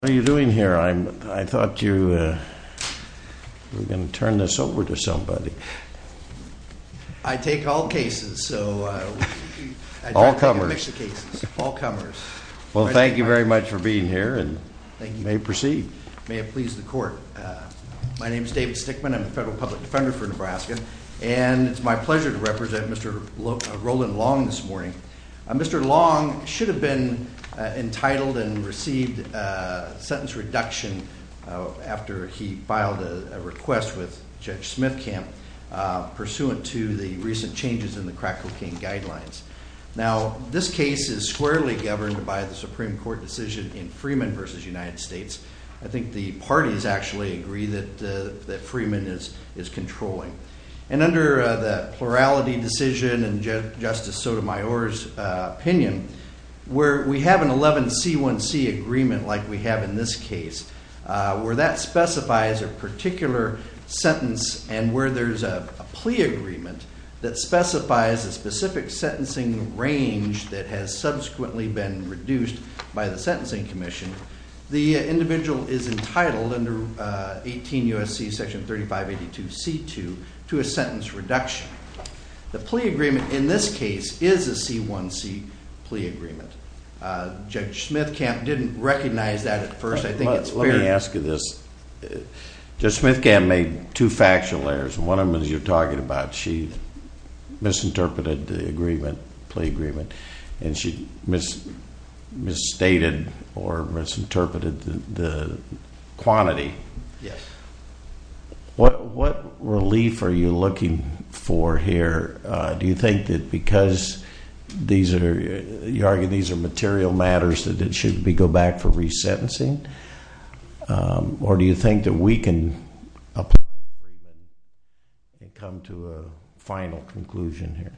What are you doing here? I thought you were going to turn this over to somebody. I take all cases. All comers. Well, thank you very much for being here and you may proceed. May it please the court. My name is David Stickman. I'm the Federal Public Defender for Nebraska. And it's my pleasure to represent Mr. Roland Long this morning. Mr. Long should have been entitled and received a sentence reduction after he filed a request with Judge Smithcamp pursuant to the recent changes in the crack cocaine guidelines. Now, this case is squarely governed by the Supreme Court decision in Freeman v. United States. I think the parties actually agree that Freeman is controlling. And under the plurality decision and Justice Sotomayor's opinion, where we have an 11C1C agreement like we have in this case, where that specifies a particular sentence and where there's a plea agreement that specifies a specific sentencing range that has subsequently been reduced by the Sentencing Commission, the individual is entitled under 18 U.S.C. section 3582C2 to a sentence reduction. The plea agreement in this case is a C1C plea agreement. Judge Smithcamp didn't recognize that at first. Let me ask you this. Judge Smithcamp made two factual errors. One of them is you're talking about she misinterpreted the agreement, plea agreement, and she misstated or misinterpreted the quantity. Yes. What relief are you looking for here? Do you think that because you argue these are material matters that it should go back for resentencing? Or do you think that we can come to a final conclusion here?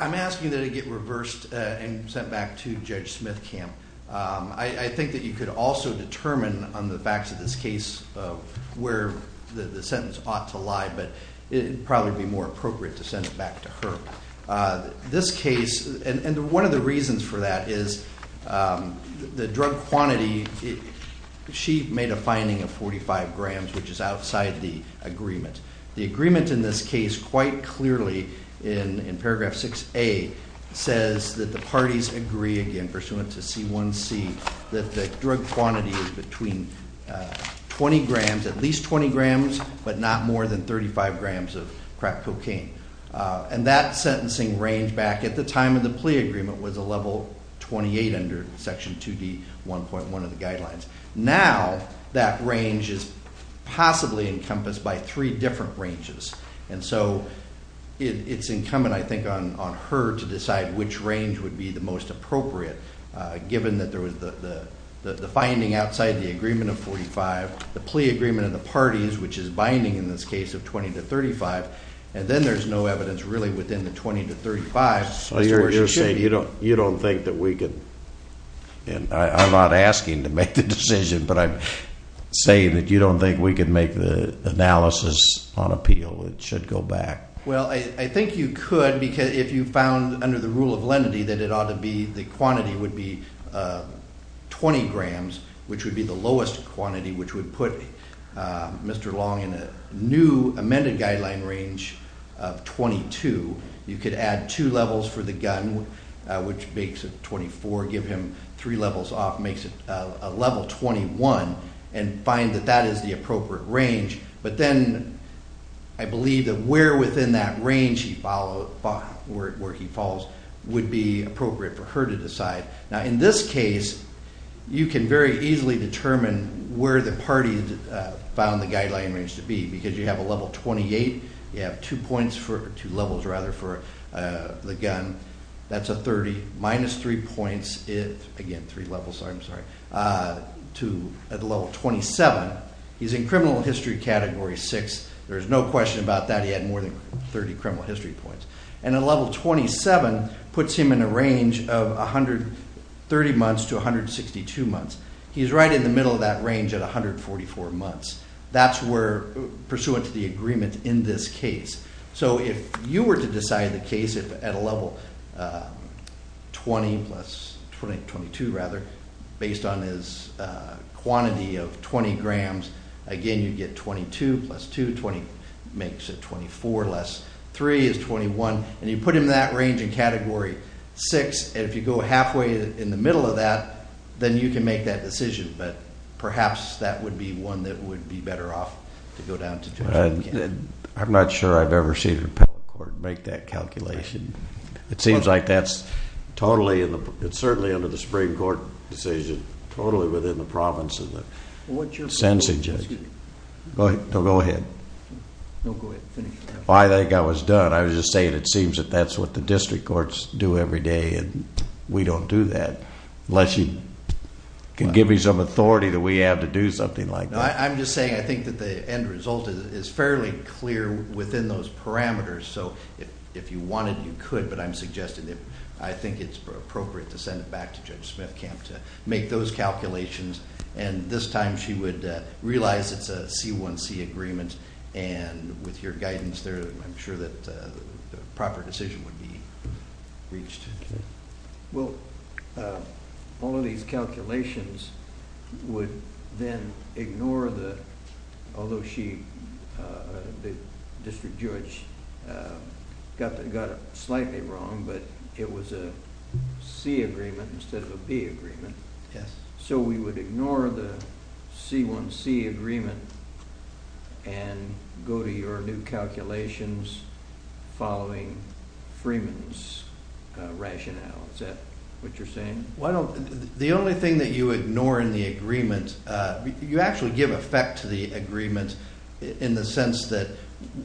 I'm asking that it get reversed and sent back to Judge Smithcamp. I think that you could also determine on the facts of this case where the sentence ought to lie, but it would probably be more appropriate to send it back to her. This case, and one of the reasons for that is the drug quantity. She made a finding of 45 grams, which is outside the agreement. The agreement in this case quite clearly in paragraph 6A says that the parties agree, again, pursuant to C1C, that the drug quantity is between 20 grams, at least 20 grams, but not more than 35 grams of crack cocaine. That sentencing range back at the time of the plea agreement was a level 28 under Section 2D, 1.1 of the guidelines. Now, that range is possibly encompassed by three different ranges, and so it's incumbent, I think, on her to decide which range would be the most appropriate, given that there was the finding outside the agreement of 45, the plea agreement of the parties, which is binding in this case of 20 to 35, and then there's no evidence really within the 20 to 35. So you're saying you don't think that we could, and I'm not asking to make the decision, but I'm saying that you don't think we could make the analysis on appeal. It should go back. Well, I think you could if you found under the rule of lenity that it ought to be, the quantity would be 20 grams, which would be the lowest quantity, which would put Mr. Long in a new amended guideline range of 22. You could add two levels for the gun, which makes it 24, give him three levels off, makes it a level 21, and find that that is the appropriate range. But then I believe that where within that range he follows would be appropriate for her to decide. Now, in this case, you can very easily determine where the party found the guideline range to be, because you have a level 28, you have two levels for the gun, that's a 30, minus three levels to the level 27. He's in criminal history category six. There is no question about that. He had more than 30 criminal history points. And a level 27 puts him in a range of 130 months to 162 months. He's right in the middle of that range at 144 months. That's pursuant to the agreement in this case. So if you were to decide the case at a level 20 plus 22, rather, based on his quantity of 20 grams, again, you'd get 22 plus two, 20 makes it 24, less three is 21. And you put him in that range in category six, and if you go halfway in the middle of that, then you can make that decision. But perhaps that would be one that would be better off to go down to category 10. I'm not sure I've ever seen a repeal court make that calculation. It seems like that's totally under the Supreme Court decision, totally within the province of the sentencing judge. Go ahead. I think I was done. I was just saying it seems that that's what the district courts do every day, and we don't do that unless you can give me some authority that we have to do something like that. I'm just saying I think that the end result is fairly clear within those parameters. So if you wanted, you could, but I'm suggesting that I think it's appropriate to send it back to Judge Smithcamp to make those calculations, and this time she would realize it's a C1C agreement, and with your guidance there, I'm sure that the proper decision would be reached. Well, all of these calculations would then ignore the, although she, the district judge, got it slightly wrong, but it was a C agreement instead of a B agreement. Yes. So we would ignore the C1C agreement and go to your new calculations following Freeman's rationale. Is that what you're saying? Well, the only thing that you ignore in the agreement, you actually give effect to the agreement in the sense that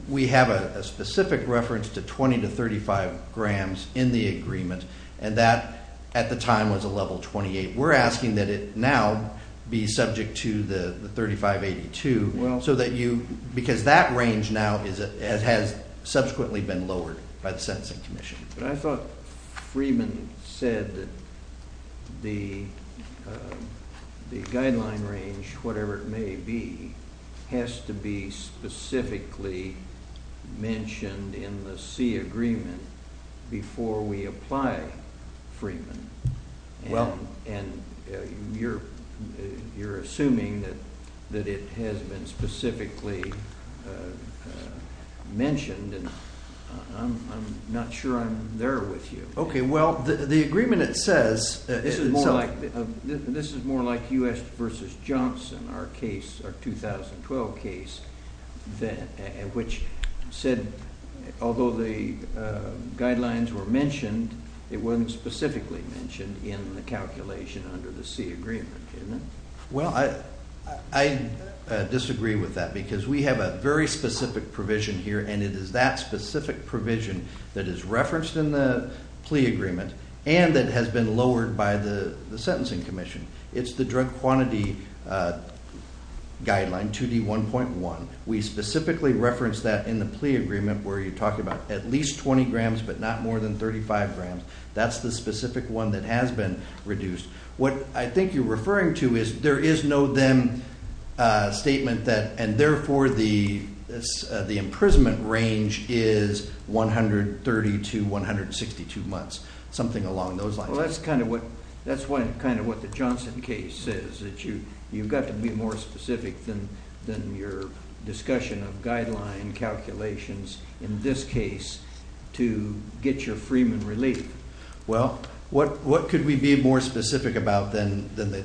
we have a specific reference to 20 to 35 grams in the agreement, and that at the time was a level 28. We're asking that it now be subject to the 3582 so that you, because that range now has subsequently been lowered by the Sentencing Commission. But I thought Freeman said that the guideline range, whatever it may be, has to be specifically mentioned in the C agreement before we apply Freeman. Well. And you're assuming that it has been specifically mentioned, and I'm not sure I'm there with you. Okay. Well, the agreement, it says. This is more like U.S. v. Johnson, our case, our 2012 case, which said, although the guidelines were mentioned, it wasn't specifically mentioned in the calculation under the C agreement, isn't it? Well, I disagree with that because we have a very specific provision here, and it is that specific provision that is referenced in the plea agreement and that has been lowered by the Sentencing Commission. It's the drug quantity guideline, 2D1.1. We specifically reference that in the plea agreement where you're talking about at least 20 grams but not more than 35 grams. That's the specific one that has been reduced. What I think you're referring to is there is no then statement that, and therefore the imprisonment range is 130 to 162 months, something along those lines. Well, that's kind of what the Johnson case says, that you've got to be more specific than your discussion of guideline calculations, in this case, to get your freeman relief. Well, what could we be more specific about than the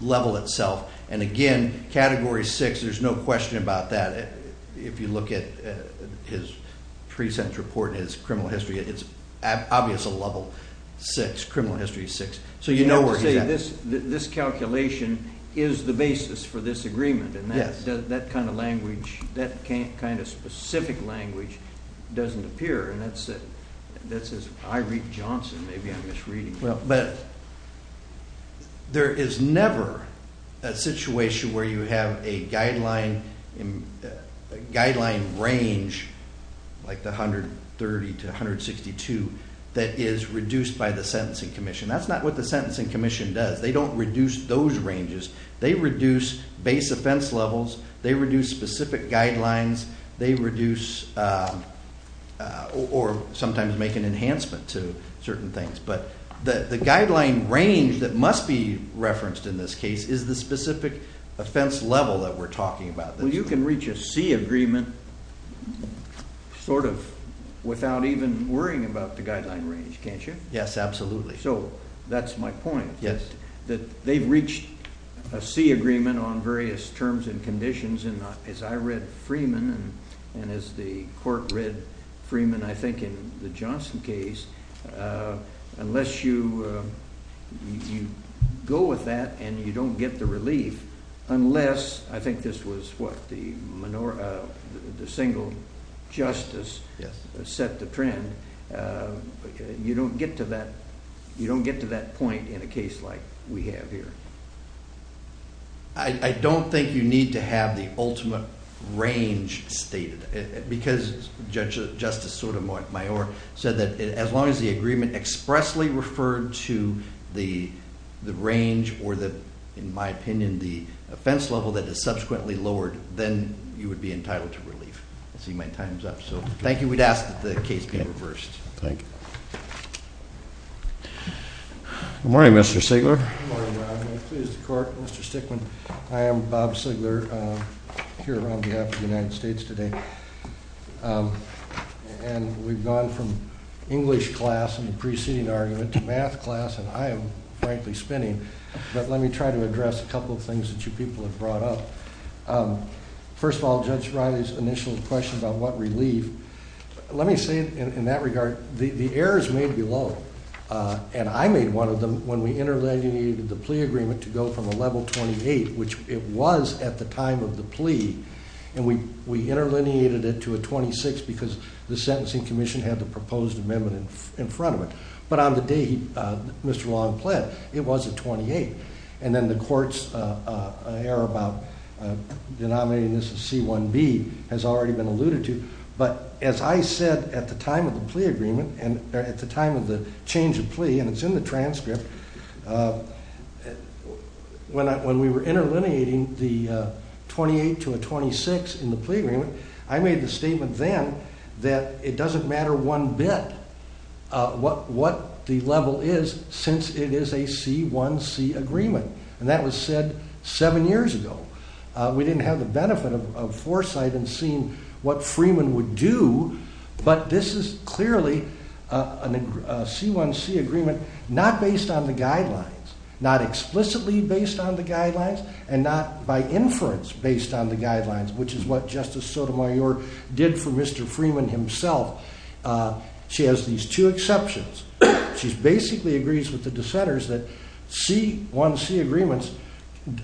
level itself? And again, Category 6, there's no question about that. If you look at his pre-sentence report and his criminal history, it's obvious a level 6, criminal history 6. So you know where he's at. You have to say this calculation is the basis for this agreement, and that kind of language, that kind of specific language doesn't appear, and that says, I read Johnson, maybe I'm misreading it. Well, but there is never a situation where you have a guideline range, like the 130 to 162, that is reduced by the Sentencing Commission. That's not what the Sentencing Commission does. They don't reduce those ranges. They reduce base offense levels. They reduce specific guidelines. They reduce or sometimes make an enhancement to certain things. But the guideline range that must be referenced in this case is the specific offense level that we're talking about. Well, you can reach a C agreement sort of without even worrying about the guideline range, can't you? Yes, absolutely. So that's my point. Yes. That they've reached a C agreement on various terms and conditions, and as I read Freeman and as the court read Freeman, I think in the Johnson case, unless you go with that and you don't get the relief, unless, I think this was what, the single justice set the trend, you don't get to that point in a case like we have here. I don't think you need to have the ultimate range stated because Justice Sotomayor said that as long as the agreement expressly referred to the range or, in my opinion, the offense level that is subsequently lowered, then you would be entitled to relief. I see my time's up. So thank you. We'd ask that the case be reversed. Thank you. Good morning, Mr. Sigler. Good morning, Robin. Pleased to court. Mr. Stickman. I am Bob Sigler here on behalf of the United States today. And we've gone from English class in the preceding argument to math class, and I am, frankly, spinning. But let me try to address a couple of things that you people have brought up. First of all, Judge Riley's initial question about what relief, let me say in that regard, the errors made below, and I made one of them when we interlineated the plea agreement to go from a level 28, which it was at the time of the plea, and we interlineated it to a 26 because the sentencing commission had the proposed amendment in front of it. But on the day Mr. Long pled, it was a 28. And then the court's error about denominating this as C1B has already been alluded to. But as I said at the time of the plea agreement and at the time of the change of plea, and it's in the transcript, when we were interlineating the 28 to a 26 in the plea agreement, I made the statement then that it doesn't matter one bit what the level is since it is a C1C agreement. And that was said seven years ago. We didn't have the benefit of foresight in seeing what Freeman would do, but this is clearly a C1C agreement not based on the guidelines, not explicitly based on the guidelines, and not by inference based on the guidelines, which is what Justice Sotomayor did for Mr. Freeman himself. She has these two exceptions. She basically agrees with the dissenters that C1C agreements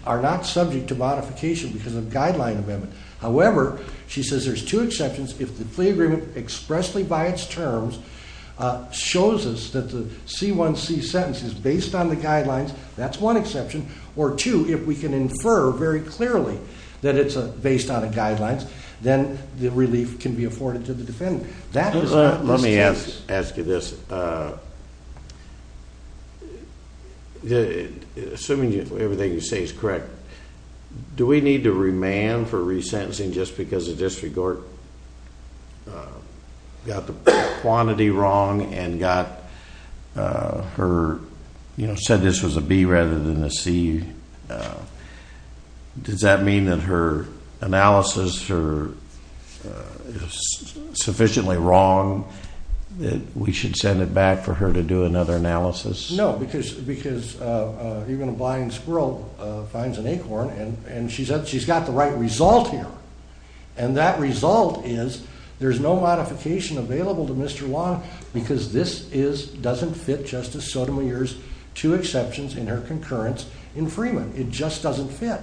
are not subject to modification because of guideline amendment. However, she says there's two exceptions. If the plea agreement expressly by its terms shows us that the C1C sentence is based on the guidelines, that's one exception. Or two, if we can infer very clearly that it's based on the guidelines, then the relief can be afforded to the defendant. Let me ask you this. Assuming everything you say is correct, do we need to remand for resentencing just because the district court got the quantity wrong and said this was a B rather than a C? Does that mean that her analysis is sufficiently wrong that we should send it back for her to do another analysis? No, because even a blind squirrel finds an acorn, and she's got the right result here. And that result is there's no modification available to Mr. Long because this doesn't fit Justice Sotomayor's two exceptions in her concurrence in Freeman. It just doesn't fit.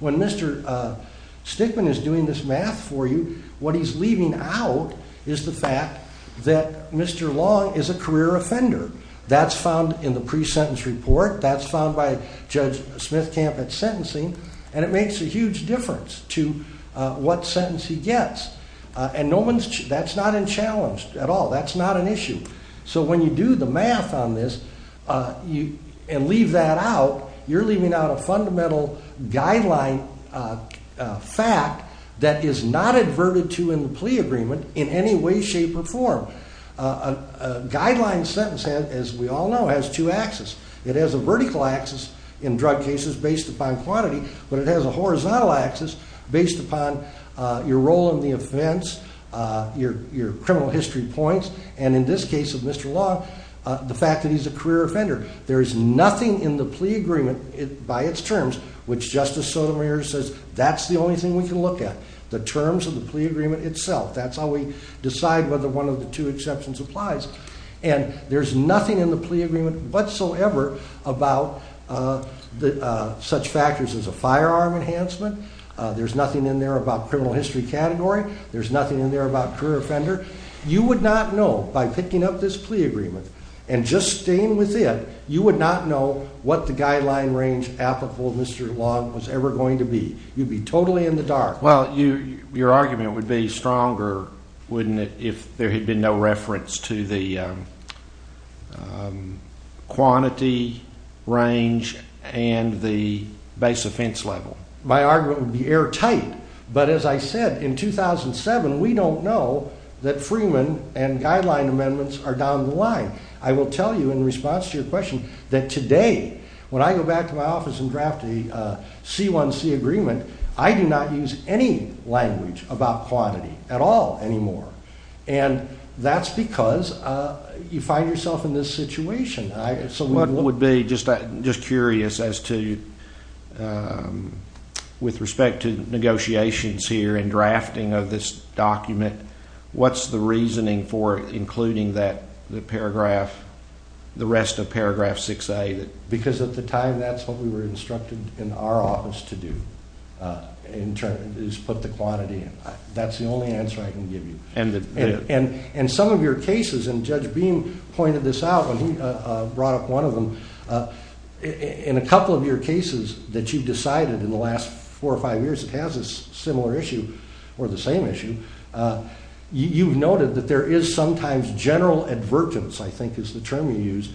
When Mr. Stickman is doing this math for you, what he's leaving out is the fact that Mr. Long is a career offender. That's found in the pre-sentence report. That's found by Judge Smithcamp at sentencing. And it makes a huge difference to what sentence he gets. And that's not unchallenged at all. That's not an issue. So when you do the math on this and leave that out, you're leaving out a fundamental guideline fact that is not adverted to in the plea agreement in any way, shape, or form. A guideline sentence, as we all know, has two axes. It has a vertical axis in drug cases based upon quantity, but it has a horizontal axis based upon your role in the offense, your criminal history points, and in this case of Mr. Long, the fact that he's a career offender. There is nothing in the plea agreement by its terms which Justice Sotomayor says that's the only thing we can look at, the terms of the plea agreement itself. That's how we decide whether one of the two exceptions applies. And there's nothing in the plea agreement whatsoever about such factors as a firearm enhancement. There's nothing in there about criminal history category. There's nothing in there about career offender. You would not know by picking up this plea agreement and just staying with it, you would not know what the guideline range applicable to Mr. Long was ever going to be. You'd be totally in the dark. Well, your argument would be stronger, wouldn't it, if there had been no reference to the quantity range and the base offense level? My argument would be airtight, but as I said, in 2007, we don't know that Freeman and guideline amendments are down the line. I will tell you in response to your question that today, when I go back to my office and draft a C1C agreement, I do not use any language about quantity at all anymore. And that's because you find yourself in this situation. I would be just curious as to, with respect to negotiations here and drafting of this document, what's the reasoning for including the rest of paragraph 6A? Because at the time, that's what we were instructed in our office to do, is put the quantity in. That's the only answer I can give you. And some of your cases, and Judge Beam pointed this out when he brought up one of them, in a couple of your cases that you've decided in the last four or five years, it has a similar issue or the same issue, you've noted that there is sometimes general advertence, I think is the term you used,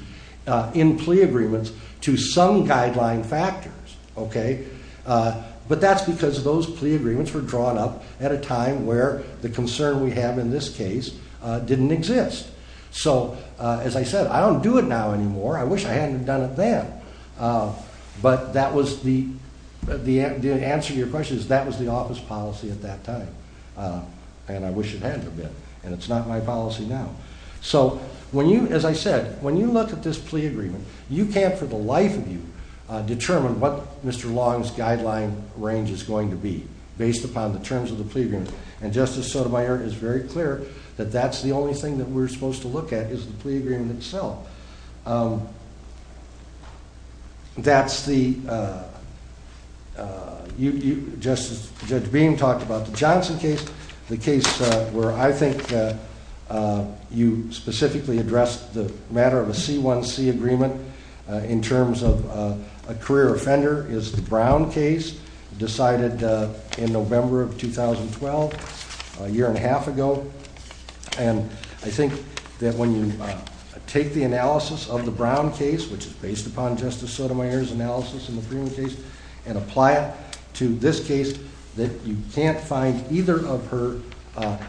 in plea agreements to some guideline factors. But that's because those plea agreements were drawn up at a time where the concern we have in this case didn't exist. So, as I said, I don't do it now anymore. I wish I hadn't done it then. But the answer to your question is that was the office policy at that time. And I wish it had been. And it's not my policy now. So, as I said, when you look at this plea agreement, you can't for the life of you determine what Mr. Long's guideline range is going to be, based upon the terms of the plea agreement. And Justice Sotomayor is very clear that that's the only thing that we're supposed to look at, is the plea agreement itself. That's the, Justice, Judge Beam talked about the Johnson case, the case where I think you specifically addressed the matter of a C1C agreement, in terms of a career offender, is the Brown case, decided in November of 2012, a year and a half ago. And I think that when you take the analysis of the Brown case, which is based upon Justice Sotomayor's analysis in the Freeman case, and apply it to this case, that you can't find either of her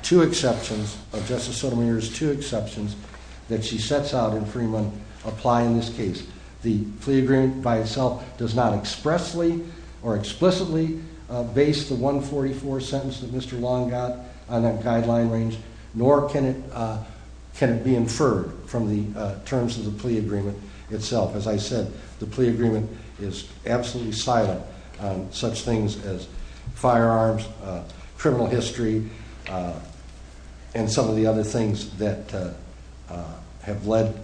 two exceptions, of Justice Sotomayor's two exceptions, that she sets out in Freeman, apply in this case. The plea agreement by itself does not expressly or explicitly base the 144 sentence that Mr. Long got on that guideline range, nor can it be inferred from the terms of the plea agreement itself. As I said, the plea agreement is absolutely silent on such things as firearms, criminal history, and some of the other things that have led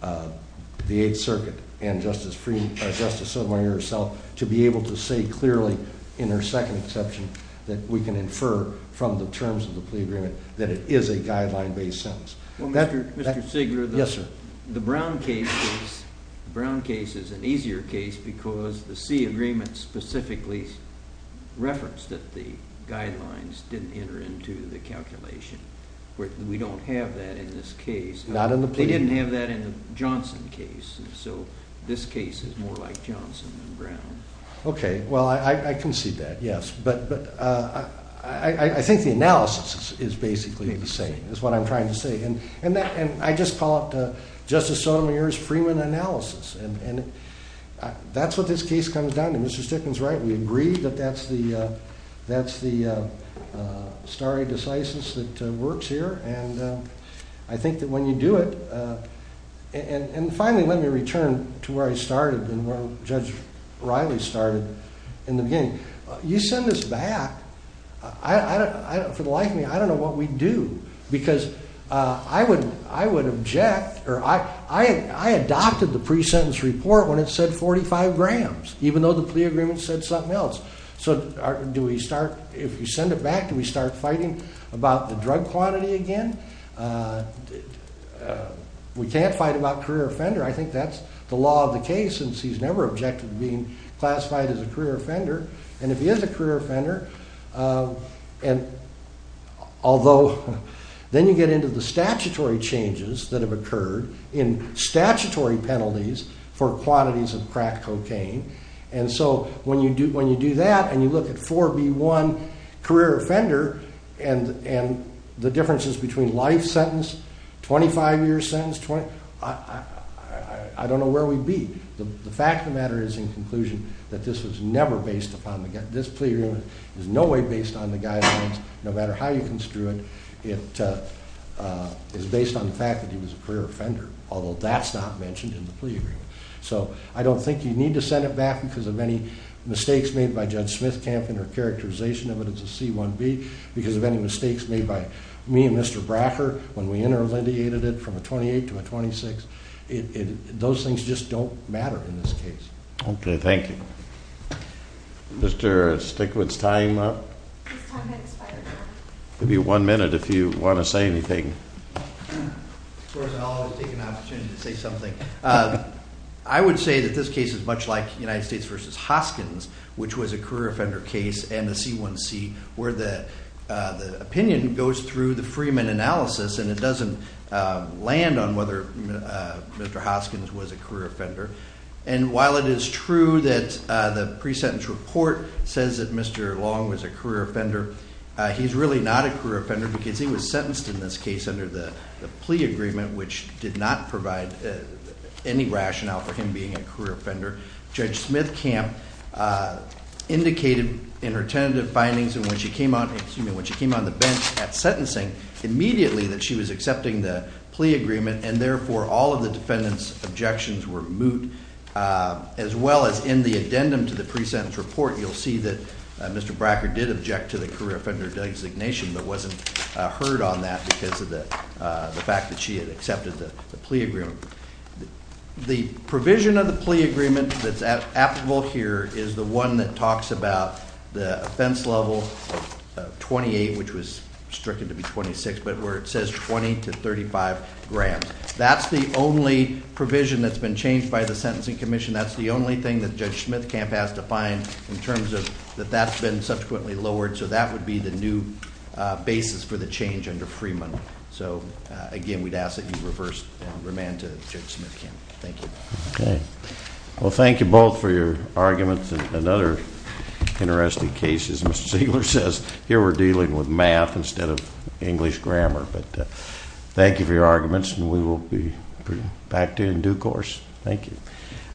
the Eighth Circuit and Justice Sotomayor herself to be able to say clearly, in her second exception, that we can infer from the terms of the plea agreement that it is a guideline-based sentence. Well, Mr. Sigler, the Brown case is an easier case because the sea agreement specifically referenced that the guidelines didn't enter into the calculation. We don't have that in this case. They didn't have that in the Johnson case, so this case is more like Johnson than Brown. Okay, well, I concede that, yes, but I think the analysis is basically the same, is what I'm trying to say, and I just call up Justice Sotomayor's Freeman analysis, and that's what this case comes down to. Mr. Stickman's right. We agree that that's the stare decisis that works here, and I think that when you do it – and finally, let me return to where I started and where Judge Riley started in the beginning. You send this back, for the life of me, I don't know what we'd do because I would object – or I adopted the pre-sentence report when it said 45 grams, even though the plea agreement said something else. So do we start – if we send it back, do we start fighting about the drug quantity again? We can't fight about career offender. I think that's the law of the case, since he's never objected to being classified as a career offender, and if he is a career offender, and although – then you get into the statutory changes that have occurred in statutory penalties for quantities of crack cocaine, and so when you do that, and you look at 4B1, career offender, and the differences between life sentence, 25-year sentence, I don't know where we'd be. The fact of the matter is, in conclusion, that this was never based upon – this plea agreement is in no way based on the guidelines, no matter how you construe it. It is based on the fact that he was a career offender, although that's not mentioned in the plea agreement. So I don't think you need to send it back because of any mistakes made by Judge Smithkamp in her characterization of it as a C1B, because of any mistakes made by me and Mr. Bracker when we inter-relineated it from a 28 to a 26. Those things just don't matter in this case. Okay, thank you. Mr. Stickwood's time? Give you one minute if you want to say anything. Of course, I'll always take an opportunity to say something. I would say that this case is much like United States v. Hoskins, which was a career offender case and a C1C, where the opinion goes through the Freeman analysis and it doesn't land on whether Mr. Hoskins was a career offender. And while it is true that the pre-sentence report says that Mr. Long was a career offender, he's really not a career offender because he was sentenced in this case under the plea agreement, which did not provide any rationale for him being a career offender. Judge Smithkamp indicated in her tentative findings when she came on the bench at sentencing immediately that she was accepting the plea agreement, and therefore all of the defendant's objections were moot. As well as in the addendum to the pre-sentence report, you'll see that Mr. Bracker did object to the career offender designation but wasn't heard on that because of the fact that she had accepted the plea agreement. The provision of the plea agreement that's applicable here is the one that talks about the offense level of 28, which was restricted to be 26, but where it says 20 to 35 grams. That's the only provision that's been changed by the Sentencing Commission. That's the only thing that Judge Smithkamp has to find in terms of that that's been subsequently lowered, so that would be the new basis for the change under Freeman. So again, we'd ask that you reverse and remand to Judge Smithkamp. Thank you. Okay. Well, thank you both for your arguments and other interesting cases. Mr. Ziegler says here we're dealing with math instead of English grammar. Thank you for your arguments, and we will be back to you in due course. Thank you.